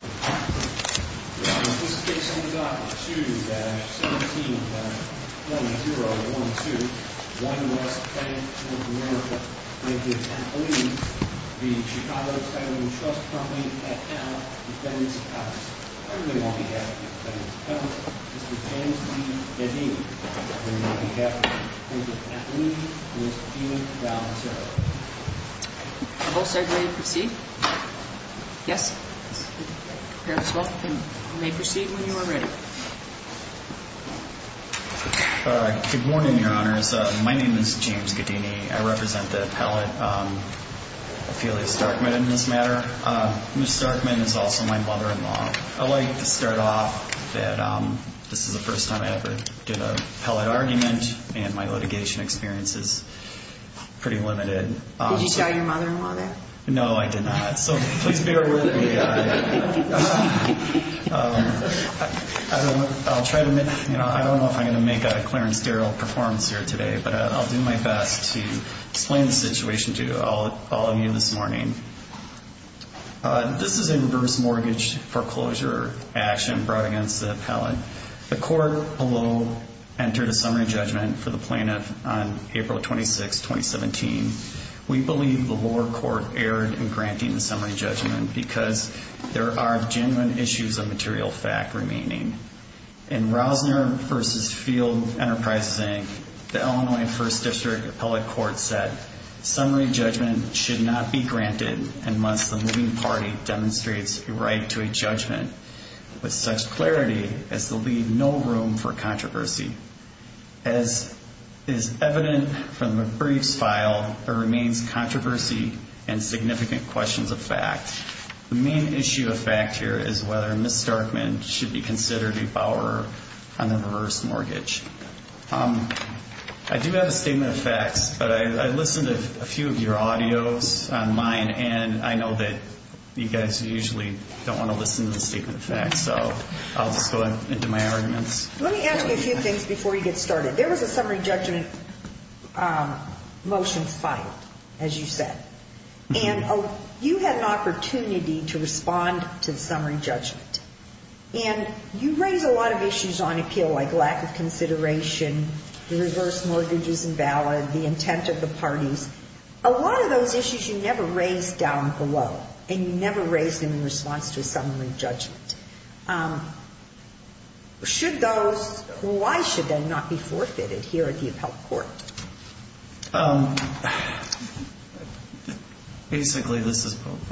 2-17-1012, 1West Bank, North America, N.A. v. Chicago Title & Trust Company at L. McBenney's Palace. On behalf of McBenney's Palace, Mr. James D. McBenney, and on behalf of N.A.V., Ms. Dina Valterra. You may proceed when you are ready. Good morning, Your Honors. My name is James Gedini. I represent the appellate, Ophelia Starkman, in this matter. Ms. Starkman is also my mother-in-law. I'd like to start off that this is the first time I ever did an appellate argument, and my litigation experience is pretty limited. Did you tell your mother-in-law that? No, I did not. So please bear with me. I don't know if I'm going to make a Clarence Darrell performance here today, but I'll do my best to explain the situation to all of you this morning. This is a reverse mortgage foreclosure action brought against the appellate. The court below entered a summary judgment for the plaintiff on April 26, 2017. We believe the lower court erred in granting the summary judgment because there are genuine issues of material fact remaining. In Rausner v. Field Enterprises, Inc., the Illinois First District Appellate Court said, summary judgment should not be granted unless the moving party demonstrates a right to a judgment with such clarity as to leave no room for controversy. As is evident from the brief's file, there remains controversy and significant questions of fact. The main issue of fact here is whether Ms. Starkman should be considered a borrower on the reverse mortgage. I do have a statement of facts, but I listened to a few of your audios on mine, and I know that you guys usually don't want to listen to the statement of facts, so I'll just go into my arguments. Let me ask you a few things before you get started. There was a summary judgment motion filed, as you said, and you had an opportunity to respond to the summary judgment, and you raised a lot of issues on appeal like lack of consideration, the reverse mortgage is invalid, the intent of the parties. A lot of those issues you never raised down below, and you never raised them in response to a summary judgment. Why should they not be forfeited here at the appellate court? Basically,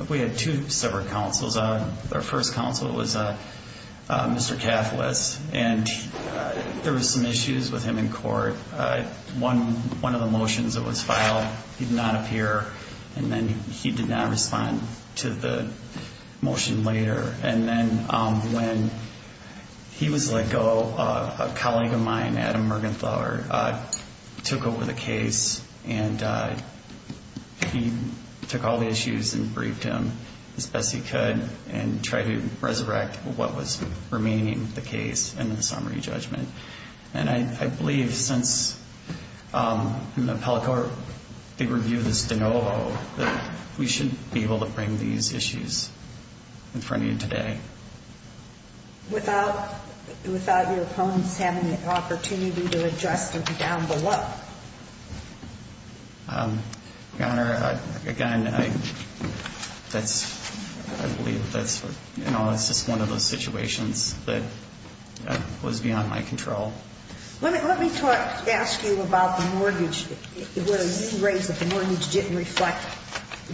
we had two separate counsels. Our first counsel was Mr. Cathles, and there were some issues with him in court. One of the motions that was filed, he did not appear, and then he did not respond to the motion later. And then when he was let go, a colleague of mine, Adam Mergenthaler, took over the case, and he took all the issues and briefed him as best he could and tried to resurrect what was remaining of the case in the summary judgment. And I believe since in the appellate court, they reviewed this de novo, that we should be able to bring these issues in front of you today. Without your opponents having the opportunity to address them down below? Your Honor, again, I believe that's just one of those situations that was beyond my control. Let me ask you about the mortgage. Where you raised that the mortgage didn't reflect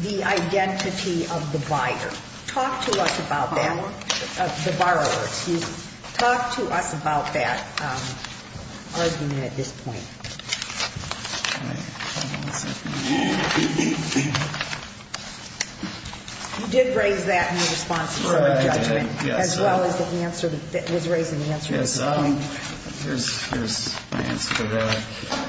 the identity of the buyer. Talk to us about that. The borrower? The borrower, excuse me. Talk to us about that argument at this point. All right. Hold on a second. You did raise that in the response to the summary judgment. Right. Yes. As well as the answer that was raised in the answer to this point. Yes. Here's my answer to that.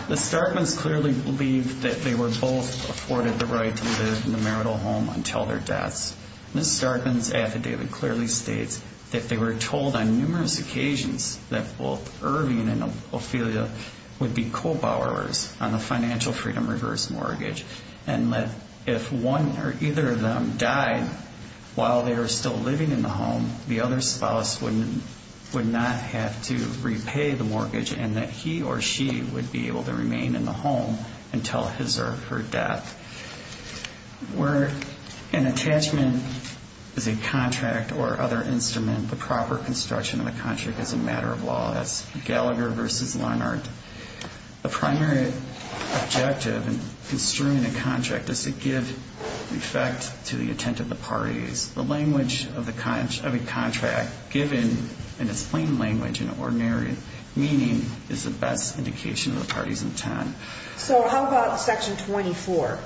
Ms. Starkman's clearly believed that they were both afforded the right to live in the marital home until their deaths. Ms. Starkman's affidavit clearly states that they were told on numerous occasions that both Irving and Ophelia would be co-borrowers on the financial freedom reverse mortgage and that if one or either of them died while they were still living in the home, the other spouse would not have to repay the mortgage and that he or she would be able to remain in the home until his or her death. Where an attachment is a contract or other instrument, the proper construction of the contract is a matter of law. That's Gallagher versus Leonard. The primary objective in construing a contract is to give effect to the intent of the parties. The language of a contract given in its plain language and ordinary meaning is the best indication of the party's intent. So how about Section 24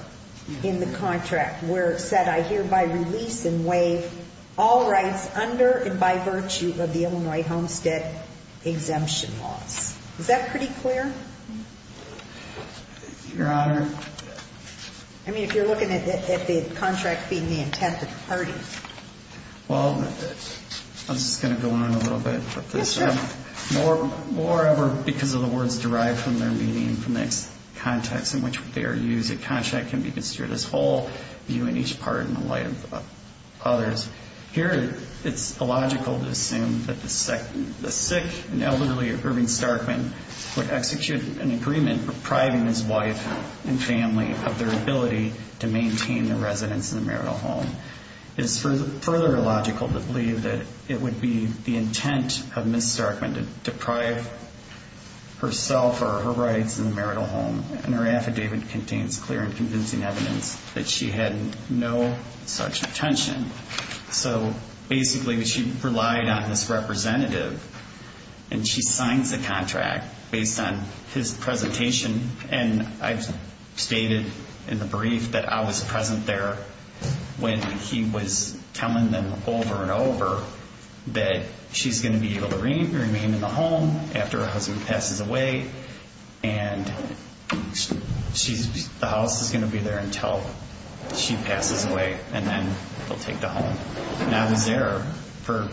in the contract where it said, I hereby release and waive all rights under and by virtue of the Illinois homestead exemption laws. Is that pretty clear? Your Honor. I mean, if you're looking at the contract being the intent of the parties. Well, I'm just going to go on a little bit with this. Yes, sir. Moreover, because of the words derived from their meaning, from the context in which they are used, a contract can be construed as whole, viewing each part in the light of others. Here, it's illogical to assume that the sick and elderly Irving Starkman would execute an agreement depriving his wife and family of their ability to maintain their residence in the marital home. It is further illogical to believe that it would be the intent of Ms. Starkman to deprive herself or her rights in the marital home, and her affidavit contains clear and convincing evidence that she had no such intention. So basically, she relied on this representative, and she signs the contract based on his presentation, and I've stated in the brief that I was present there when he was telling them over and over that she's going to be able to remain in the home after her husband passes away, and the house is going to be there until she passes away, and then they'll take the home. And I was there for...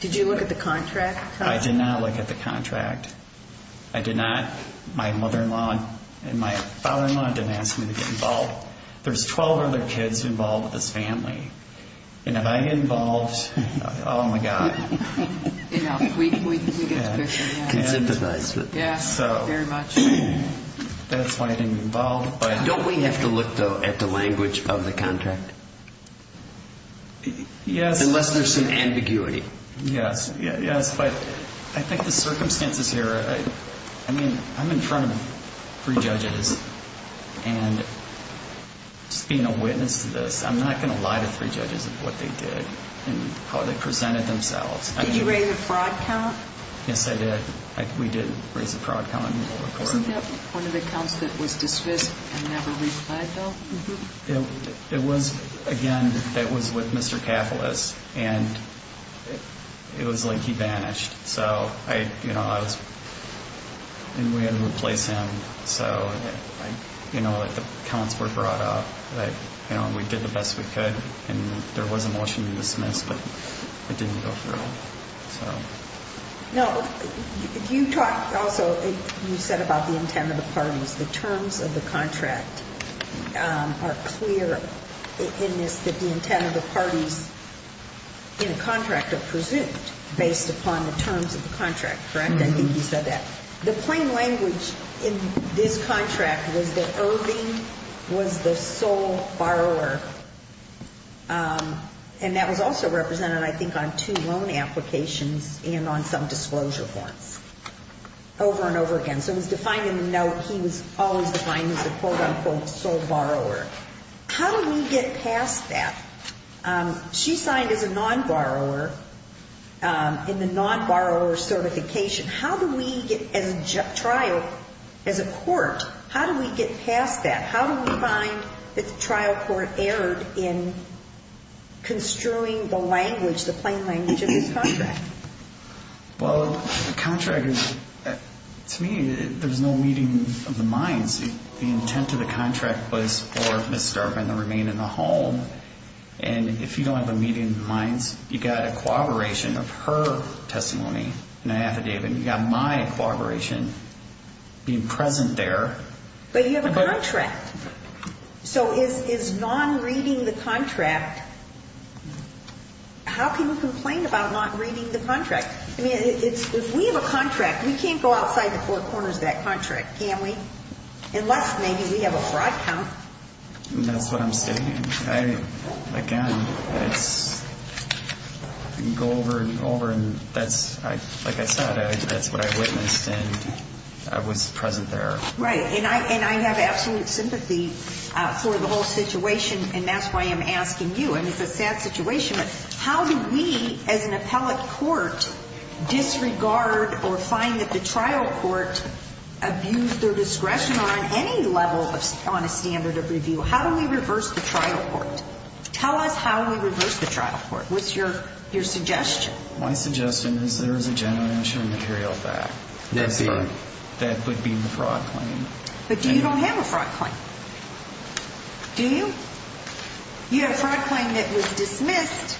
Did you look at the contract? I did not look at the contract. I did not. My mother-in-law and my father-in-law didn't ask me to get involved. There's 12 other kids involved with this family, and if I get involved, oh, my God. You know, we get to question that. Yes, very much. That's why I didn't get involved. Don't we have to look, though, at the language of the contract? Yes. Unless there's some ambiguity. Yes, yes, but I think the circumstances here, I mean, I'm in front of three judges, and just being a witness to this, I'm not going to lie to three judges of what they did and how they presented themselves. Did you raise a fraud count? Yes, I did. We did raise a fraud count in the court. Wasn't that one of the counts that was dismissed and never replied, though? Mm-hmm. It was, again, it was with Mr. Cathalas, and it was like he vanished. So I, you know, I was, and we had to replace him. So, you know, the counts were brought up. We did the best we could, and there was a motion to dismiss, but it didn't go through. No, you talked also, you said about the intent of the parties. The terms of the contract are clear in this that the intent of the parties in a contract are presumed based upon the terms of the contract, correct? Mm-hmm. I think you said that. The plain language in this contract was that Irving was the sole borrower, and that was also represented, I think, on two loan applications and on some disclosure forms over and over again. So it was defined in the note he was always defined as a quote-unquote sole borrower. How do we get past that? She signed as a non-borrower in the non-borrower certification. How do we get, as a trial, as a court, how do we get past that? How do we find that the trial court erred in construing the language, the plain language of this contract? Well, the contract is, to me, there was no meeting of the minds. The intent of the contract was for Ms. Starvin to remain in the home, and if you don't have a meeting of the minds, you've got a corroboration of her testimony in an affidavit, and you've got my corroboration being present there. But you have a contract. So is non-reading the contract, how can you complain about not reading the contract? I mean, if we have a contract, we can't go outside the four corners of that contract, can we? Unless maybe we have a fraud count. That's what I'm stating. Again, it's go over and over, and that's, like I said, that's what I witnessed, and I was present there. Right. And I have absolute sympathy for the whole situation, and that's why I'm asking you. I mean, it's a sad situation, but how do we, as an appellate court, disregard or find that the trial court abused their discretion on any level on a standard of review? How do we reverse the trial court? Tell us how we reverse the trial court. What's your suggestion? My suggestion is there is a general insurance material back that would be the fraud claim. But you don't have a fraud claim. Do you? You have a fraud claim that was dismissed,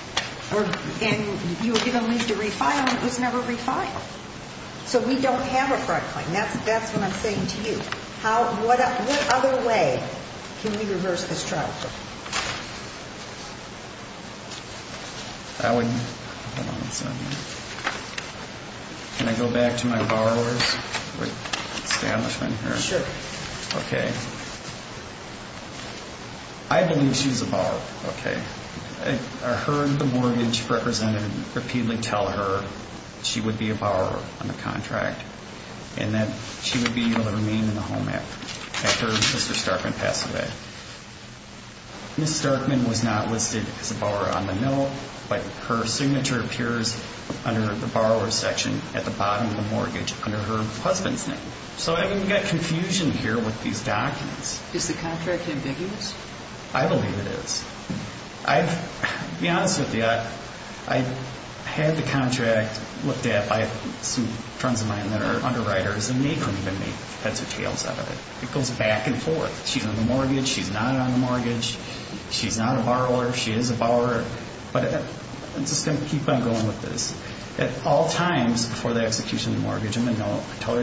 and you were given leave to refile, and it was never refiled. So we don't have a fraud claim. That's what I'm saying to you. What other way can we reverse this trial court? Can I go back to my borrower's establishment here? Sure. Okay. I believe she's a borrower. Okay. I heard the mortgage representative repeatedly tell her she would be a borrower on the contract and that she would be able to remain in the home after Mr. Starkman passed away. Mrs. Starkman was not listed as a borrower on the note, but her signature appears under the borrower's section at the bottom of the mortgage under her husband's name. So I've got confusion here with these documents. Is the contract ambiguous? I believe it is. To be honest with you, I had the contract looked at by some friends of mine that are underwriters, and they couldn't even make heads or tails out of it. It goes back and forth. She's on the mortgage. She's not on the mortgage. She's not a borrower. She is a borrower. But I'm just going to keep on going with this. At all times before the execution of the mortgage on the note, I tell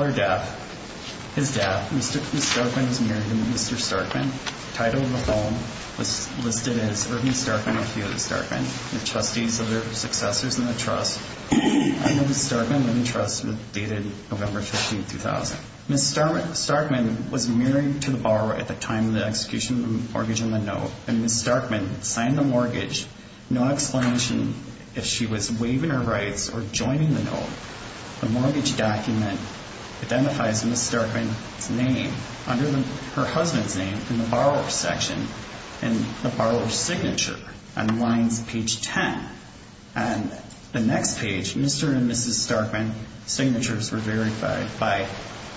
her death, his death. Mrs. Starkman was married to Mr. Starkman. Title of the home was listed as Irving Starkman or Theodore Starkman, the trustees of their successors in the trust. Irving Starkman and the trust were dated November 15, 2000. Mrs. Starkman was married to the borrower at the time of the execution of the mortgage on the note, and Mrs. Starkman signed the mortgage. No explanation if she was waiving her rights or joining the note. The mortgage document identifies Mrs. Starkman's name under her husband's name in the borrower's section and the borrower's signature and lines page 10. On the next page, Mr. and Mrs. Starkman's signatures were verified by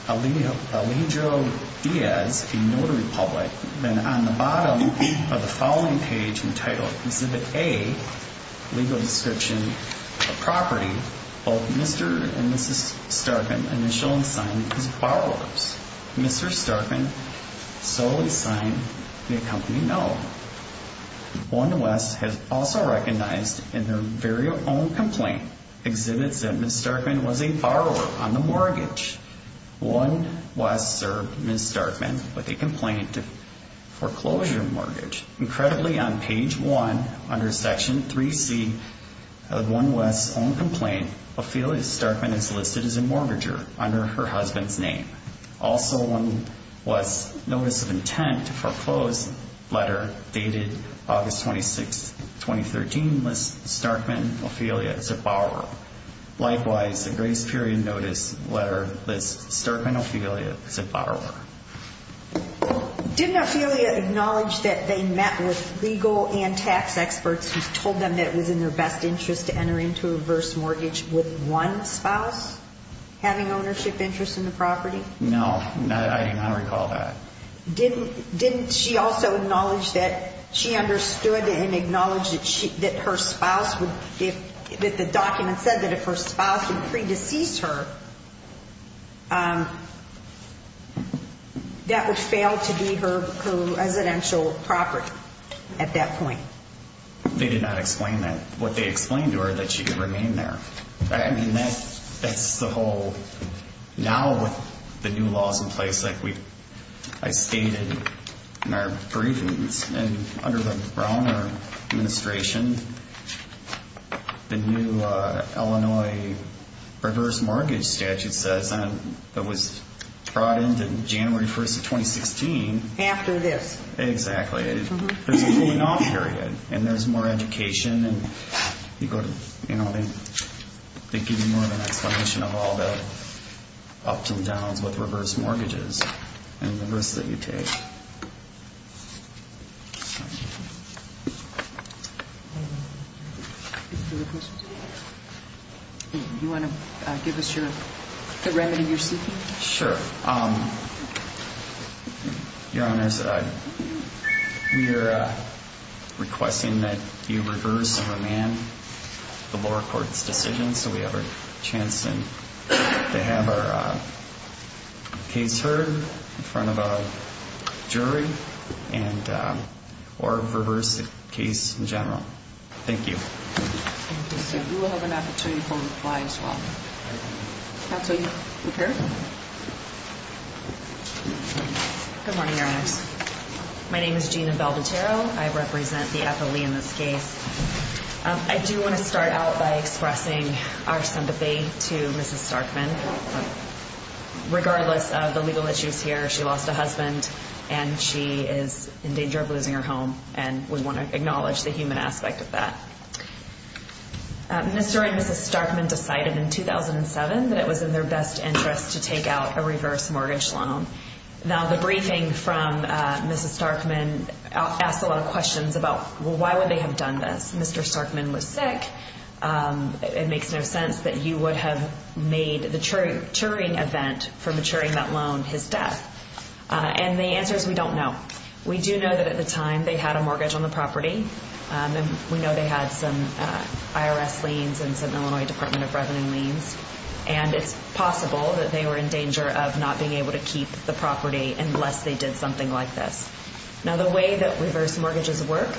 Alijo Diaz, a notary public. Then on the bottom of the following page entitled Exhibit A, Legal Description of Property, both Mr. and Mrs. Starkman initially signed as borrowers. Mr. Starkman solely signed the accompanying no. One West has also recognized in their very own complaint, exhibits that Mrs. Starkman was a borrower on the mortgage. One West served Mrs. Starkman with a complaint of foreclosure mortgage. Incredibly, on page 1 under section 3C of One West's own complaint, Ophelia Starkman is listed as a mortgager under her husband's name. Also on One West's notice of intent to foreclose letter dated August 26, 2013, lists Starkman Ophelia as a borrower. Likewise, the grace period notice letter lists Starkman Ophelia as a borrower. Didn't Ophelia acknowledge that they met with legal and tax experts who told them that it was in their best interest to enter into a reverse mortgage with one spouse, having ownership interests in the property? No, I do not recall that. Didn't she also acknowledge that she understood and acknowledge that her spouse would, that the document said that if her spouse would pre-decease her, that would fail to be her residential property at that point? They did not explain that. What they explained to her, that she could remain there. I mean, that's the whole, now with the new laws in place, like I stated in our briefings, and under the Browner administration, the new Illinois reverse mortgage statute says, that was brought into January 1st of 2016. After this. Exactly. There's a cooling off period, and there's more education, and they give you more of an explanation of all the ups and downs with reverse mortgages, and the risks that you take. Do you want to give us the remedy you're seeking? Sure. Your Honors, we are requesting that you reverse and remand the lower court's decision, so we have a chance to have our case heard in front of a jury, or reverse the case in general. Thank you. Thank you, sir. We will have an opportunity to reply as well. Counsel, you prepared? Yes. Good morning, Your Honors. My name is Gina Belvatero. I represent the FLE in this case. I do want to start out by expressing our sympathy to Mrs. Starkman. Regardless of the legal issues here, she lost a husband, and she is in danger of losing her home, and we want to acknowledge the human aspect of that. Mr. and Mrs. Starkman decided in 2007 that it was in their best interest to take out a reverse mortgage loan. Now, the briefing from Mrs. Starkman asked a lot of questions about why would they have done this. Mr. Starkman was sick. It makes no sense that you would have made the Turing event for maturing that loan his death, and the answer is we don't know. We do know that at the time they had a mortgage on the property, and we know they had some IRS liens and some Illinois Department of Revenue liens, and it's possible that they were in danger of not being able to keep the property unless they did something like this. Now, the way that reverse mortgages work,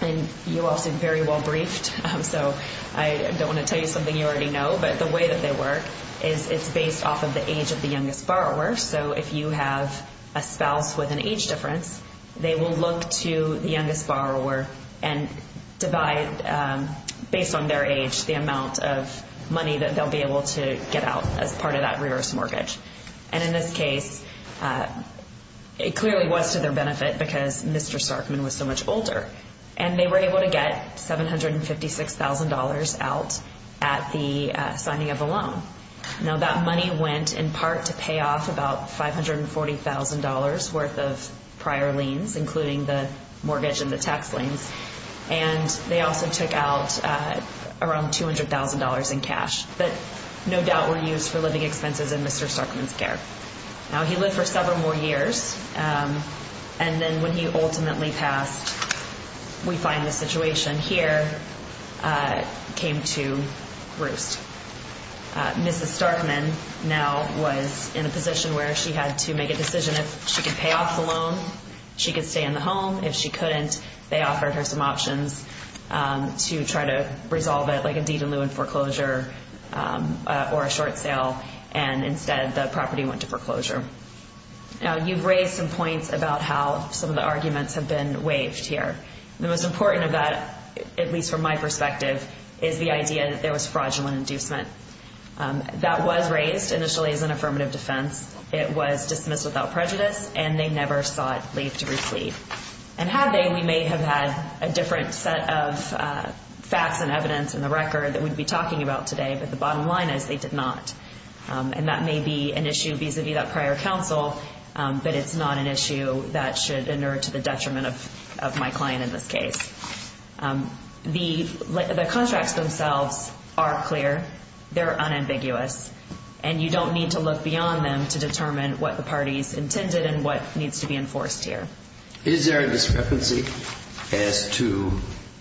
and you all seem very well briefed, so I don't want to tell you something you already know, but the way that they work is it's based off of the age of the youngest borrower. So if you have a spouse with an age difference, they will look to the youngest borrower and divide based on their age the amount of money that they'll be able to get out as part of that reverse mortgage. And in this case, it clearly was to their benefit because Mr. Starkman was so much older, and they were able to get $756,000 out at the signing of the loan. Now, that money went in part to pay off about $540,000 worth of prior liens, including the mortgage and the tax liens, and they also took out around $200,000 in cash that no doubt were used for living expenses in Mr. Starkman's care. Now, he lived for several more years, and then when he ultimately passed, we find the situation here came to roost. Mrs. Starkman now was in a position where she had to make a decision if she could pay off the loan, if she could stay in the home, if she couldn't. They offered her some options to try to resolve it, like a deed in lieu and foreclosure or a short sale, and instead the property went to foreclosure. Now, you've raised some points about how some of the arguments have been waived here. The most important of that, at least from my perspective, is the idea that there was fraudulent inducement. That was raised initially as an affirmative defense. It was dismissed without prejudice, and they never sought leave to recede. And had they, we may have had a different set of facts and evidence in the record that we'd be talking about today, but the bottom line is they did not, and that may be an issue vis-a-vis that prior counsel, but it's not an issue that should inert to the detriment of my client in this case. The contracts themselves are clear. They're unambiguous, and you don't need to look beyond them to determine what the party's intended and what needs to be enforced here. Is there a discrepancy as to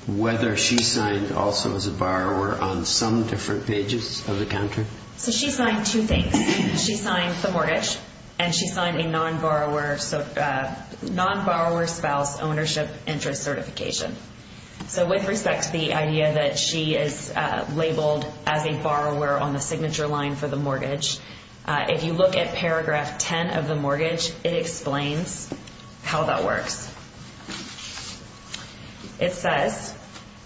whether she signed also as a borrower on some different pages of the contract? So she signed two things. She signed the mortgage, and she signed a non-borrower spouse ownership interest certification. So with respect to the idea that she is labeled as a borrower on the signature line for the mortgage, if you look at paragraph 10 of the mortgage, it explains how that works. It says,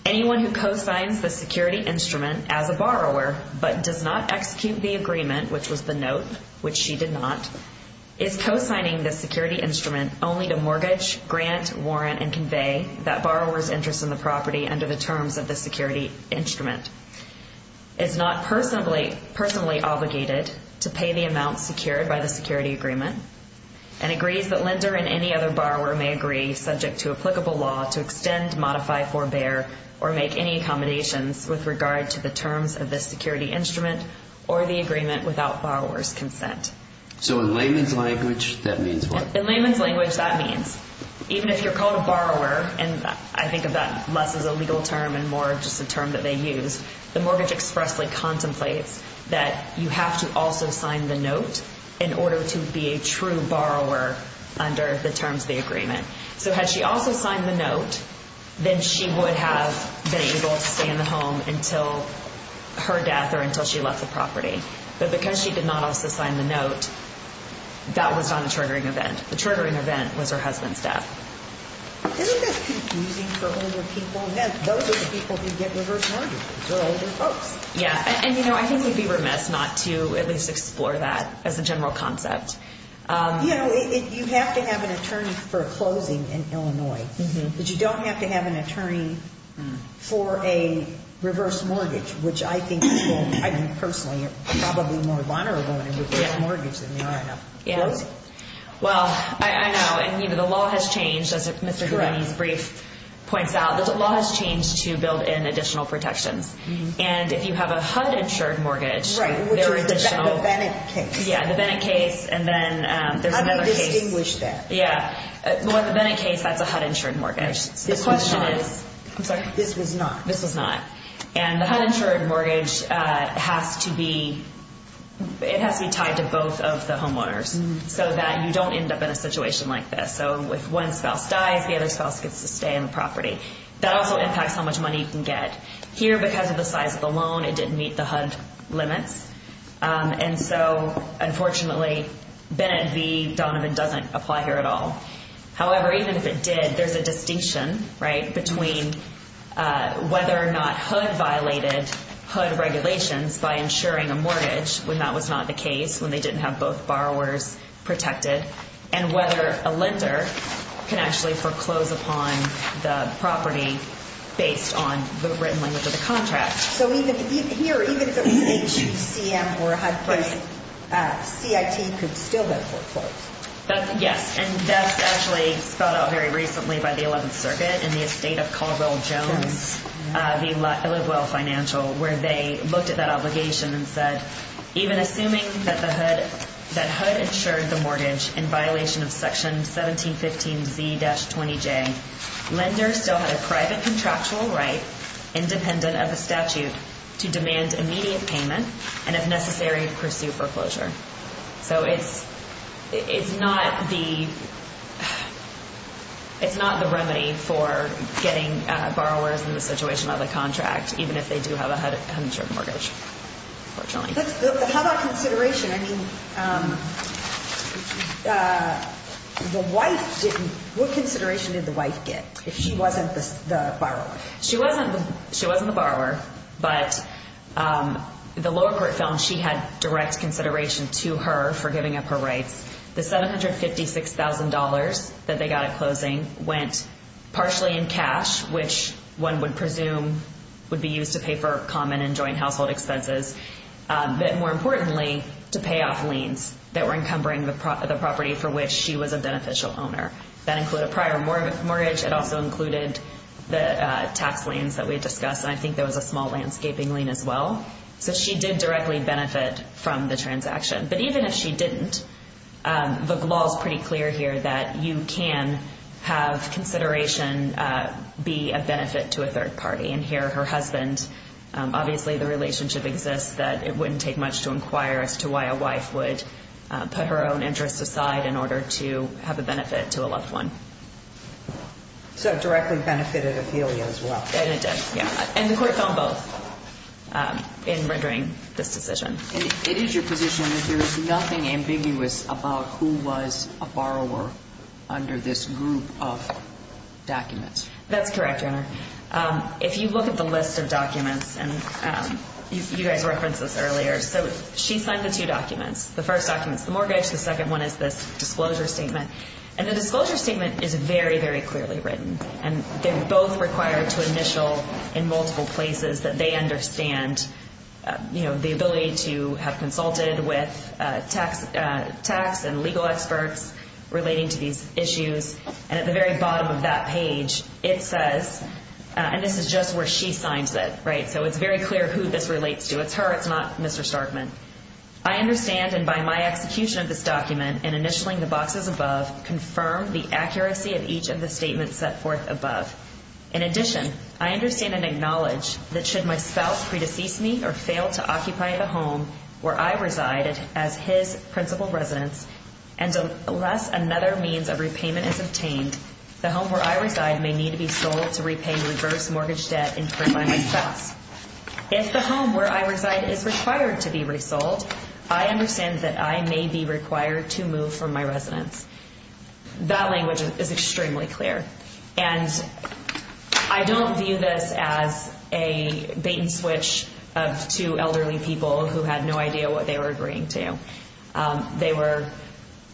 anyone who co-signs the security instrument as a borrower but does not execute the agreement, which was the note, which she did not, is co-signing the security instrument only to mortgage, grant, warrant, and convey that borrower's interest in the property under the terms of the security instrument, is not personally obligated to pay the amount secured by the security agreement, and agrees that lender and any other borrower may agree, subject to applicable law, to extend, modify, forbear, or make any accommodations with regard to the terms of the security instrument or the agreement without borrower's consent. So in layman's language, that means what? In layman's language, that means even if you're called a borrower, and I think of that less as a legal term and more just a term that they use, the mortgage expressly contemplates that you have to also sign the note in order to be a true borrower under the terms of the agreement. So had she also signed the note, then she would have been able to stay in the home until her death or until she left the property. But because she did not also sign the note, that was not a triggering event. The triggering event was her husband's death. Isn't that confusing for older people? Those are the people who get reverse mortgages because they're older folks. Yeah. And, you know, I think we'd be remiss not to at least explore that as a general concept. You know, you have to have an attorney for a closing in Illinois, but you don't have to have an attorney for a reverse mortgage, which I think people, I mean, personally, are probably more vulnerable when it comes to that mortgage than they are in a closing. Well, I know, and, you know, the law has changed, as Mr. Gavini's brief points out. The law has changed to build in additional protections. And if you have a HUD-insured mortgage, there are additional. Right, which is the Bennett case. Yeah, the Bennett case, and then there's another case. How do you distinguish that? Yeah. Well, in the Bennett case, that's a HUD-insured mortgage. This was not. I'm sorry. This was not. This was not. And the HUD-insured mortgage has to be tied to both of the homeowners so that you don't end up in a situation like this. So if one spouse dies, the other spouse gets to stay on the property. That also impacts how much money you can get. Here, because of the size of the loan, it didn't meet the HUD limits. And so, unfortunately, Bennett v. Donovan doesn't apply here at all. However, even if it did, there's a distinction, right, between whether or not HUD violated HUD regulations by insuring a mortgage when that was not the case, when they didn't have both borrowers protected, and whether a lender can actually foreclose upon the property based on the written language of the contract. So here, even if it was a chief CM or HUD person, CIT could still have foreclosed. Yes. And that's actually spelled out very recently by the 11th Circuit in the estate of Caldwell-Jones, the Livewell Financial, where they looked at that obligation and said, even assuming that HUD insured the mortgage in violation of Section 1715Z-20J, lenders still had a private contractual right, independent of the statute, to demand immediate payment and, if necessary, pursue foreclosure. So it's not the remedy for getting borrowers in the situation of a contract, even if they do have a HUD-insured mortgage, unfortunately. How about consideration? What consideration did the wife get if she wasn't the borrower? She wasn't the borrower, but the lower court found she had direct consideration to her for giving up her rights. The $756,000 that they got at closing went partially in cash, which one would presume would be used to pay for common and joint household expenses, but more importantly to pay off liens that were encumbering the property for which she was a beneficial owner. That included a prior mortgage. It also included the tax liens that we discussed, and I think there was a small landscaping lien as well. So she did directly benefit from the transaction. But even if she didn't, the law is pretty clear here that you can have consideration and be a benefit to a third party. And here her husband, obviously the relationship exists that it wouldn't take much to inquire as to why a wife would put her own interests aside in order to have a benefit to a loved one. So it directly benefited Ophelia as well. And it did, yeah. And the court found both in rendering this decision. It is your position that there is nothing ambiguous about who was a borrower under this group of documents. That's correct, Your Honor. If you look at the list of documents, and you guys referenced this earlier, so she signed the two documents. The first document is the mortgage. The second one is this disclosure statement. And the disclosure statement is very, very clearly written. And they're both required to initial in multiple places that they understand, you know, the ability to have consulted with tax and legal experts relating to these issues. And at the very bottom of that page, it says, and this is just where she signs it, right? So it's very clear who this relates to. It's her. It's not Mr. Starkman. I understand, and by my execution of this document and initialing the boxes above, confirm the accuracy of each of the statements set forth above. In addition, I understand and acknowledge that should my spouse predecease me or fail to occupy the home where I resided as his principal residence, and unless another means of repayment is obtained, the home where I reside may need to be sold to repay reverse mortgage debt incurred by my spouse. If the home where I reside is required to be resold, I understand that I may be required to move from my residence. That language is extremely clear. And I don't view this as a bait and switch of two elderly people who had no idea what they were agreeing to. They were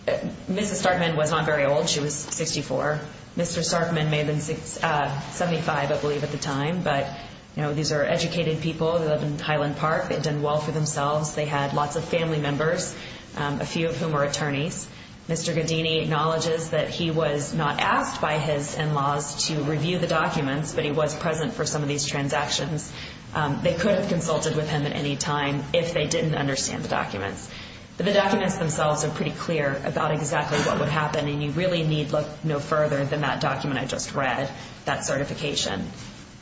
Mrs. Starkman was not very old. She was 64. Mr. Starkman may have been 75, I believe, at the time. But, you know, these are educated people that live in Highland Park. They've done well for themselves. They had lots of family members, a few of whom are attorneys. Mr. Godini acknowledges that he was not asked by his in-laws to review the documents, but he was present for some of these transactions. They could have consulted with him at any time if they didn't understand the documents. But the documents themselves are pretty clear about exactly what would happen, and you really need look no further than that document I just read, that certification.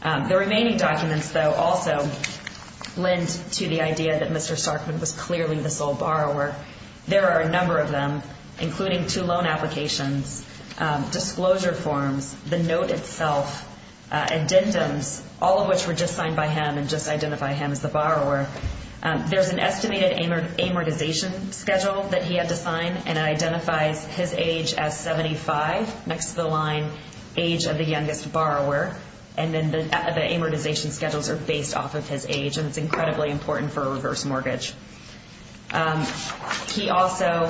The remaining documents, though, also lend to the idea that Mr. Starkman was clearly the sole borrower. There are a number of them, including two loan applications, disclosure forms, the note itself, addendums, all of which were just signed by him and just identify him as the borrower. There's an estimated amortization schedule that he had to sign, and it identifies his age as 75, next to the line age of the youngest borrower, and then the amortization schedules are based off of his age, and it's incredibly important for a reverse mortgage. He also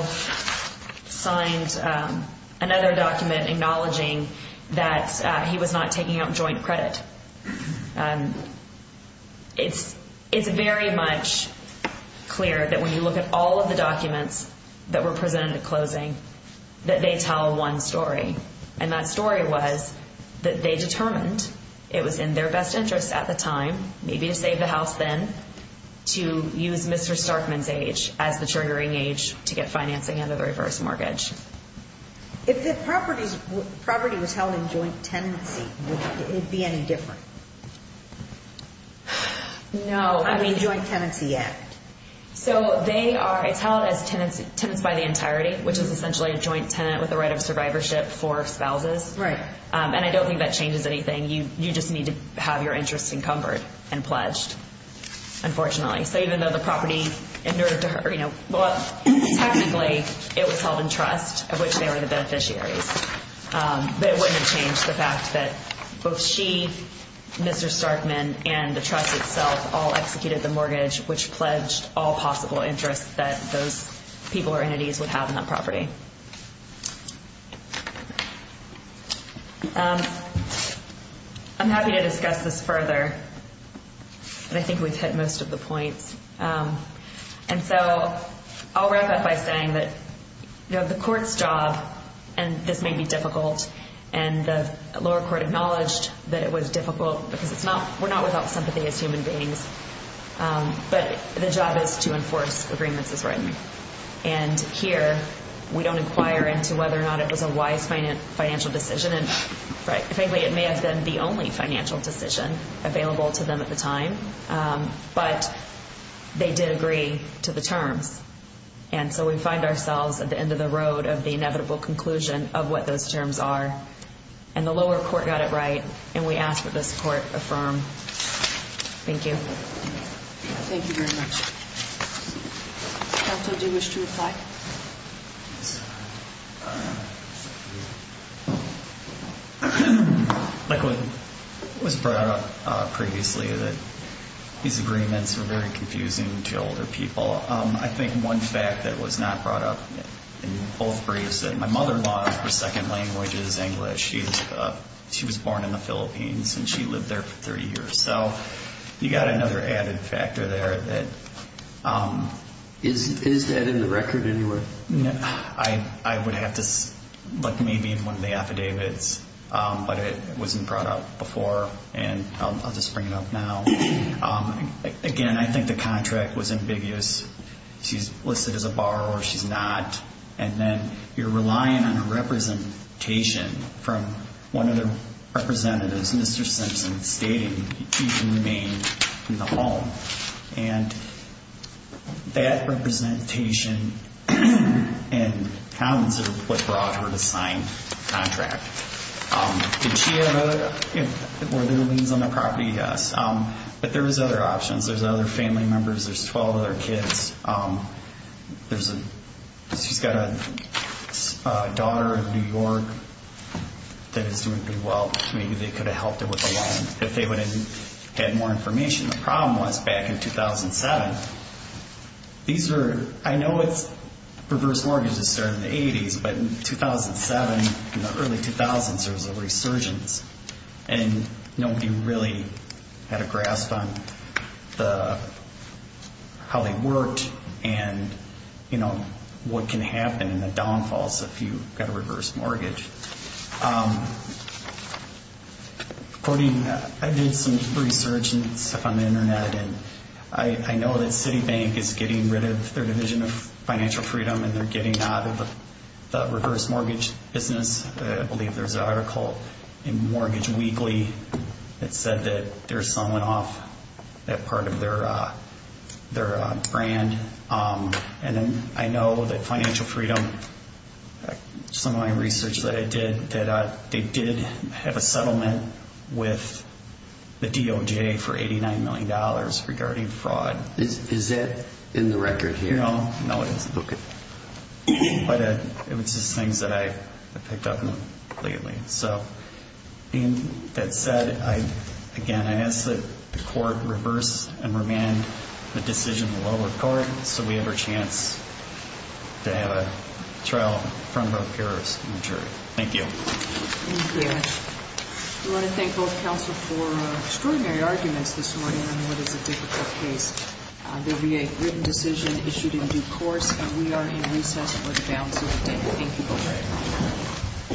signed another document acknowledging that he was not taking out joint credit. It's very much clear that when you look at all of the documents that were presented at closing, that they tell one story, and that story was that they determined it was in their best interest at the time, maybe to save the house then, to use Mr. Starkman's age as the triggering age to get financing under the reverse mortgage. If the property was held in joint tenancy, would it be any different? No. The Joint Tenancy Act. So they are held as tenants by the entirety, which is essentially a joint tenant with the right of survivorship for spouses. Right. And I don't think that changes anything. You just need to have your interest encumbered and pledged, unfortunately. So even though the property, technically, it was held in trust, of which they were the beneficiaries, but it wouldn't have changed the fact that both she, Mr. Starkman, and the trust itself all executed the mortgage, which pledged all possible interests that those people or entities would have in that property. I'm happy to discuss this further, but I think we've hit most of the points. And so I'll wrap up by saying that the court's job, and this may be difficult, and the lower court acknowledged that it was difficult because we're not without sympathy as human beings, but the job is to enforce agreements as written. And here we don't inquire into whether or not it was a wise financial decision. And frankly, it may have been the only financial decision available to them at the time, but they did agree to the terms. And so we find ourselves at the end of the road of the inevitable conclusion of what those terms are. And the lower court got it right, and we ask that this court affirm. Thank you. Thank you very much. Counsel, do you wish to reply? Yes. Like what was brought up previously, that these agreements are very confusing to older people. I think one fact that was not brought up in both briefs, that my mother-in-law, her second language is English. She was born in the Philippines, and she lived there for 30 years. So you've got another added factor there. Is that in the record anywhere? I would have to look maybe in one of the affidavits, but it wasn't brought up before, and I'll just bring it up now. Again, I think the contract was ambiguous. She's listed as a borrower, she's not. And then you're relying on a representation from one of the representatives, Mr. Simpson, stating that she can remain in the home. And that representation and hounds are what brought her to sign the contract. Did she have other – were there liens on the property? Yes. But there was other options. There's other family members. There's 12 other kids. There's a – she's got a daughter in New York that is doing pretty well. Maybe they could have helped her with a lien if they would have had more information. The problem was back in 2007, these were – I know it's reverse mortgages starting in the 80s, but in 2007, in the early 2000s, there was a resurgence, and nobody really had a grasp on how they worked and what can happen in the downfalls if you've got a reverse mortgage. I did some resurgence stuff on the Internet, and I know that Citibank is getting rid of their division of financial freedom and they're getting out of the reverse mortgage business. I believe there's an article in Mortgage Weekly that said that they're selling off that part of their brand. And then I know that Financial Freedom, some of my research that I did, that they did have a settlement with the DOJ for $89 million regarding fraud. Is that in the record here? No, it isn't. Okay. But it was just things that I picked up lately. So that said, again, I ask that the court reverse and remand the decision in the lower court so we have a chance to have a trial in front of both jurors and the jury. Thank you. Thank you. I want to thank both counsel for extraordinary arguments this morning on what is a difficult case. There will be a written decision issued in due course, and we are in recess for the balance of the day. Thank you both very much.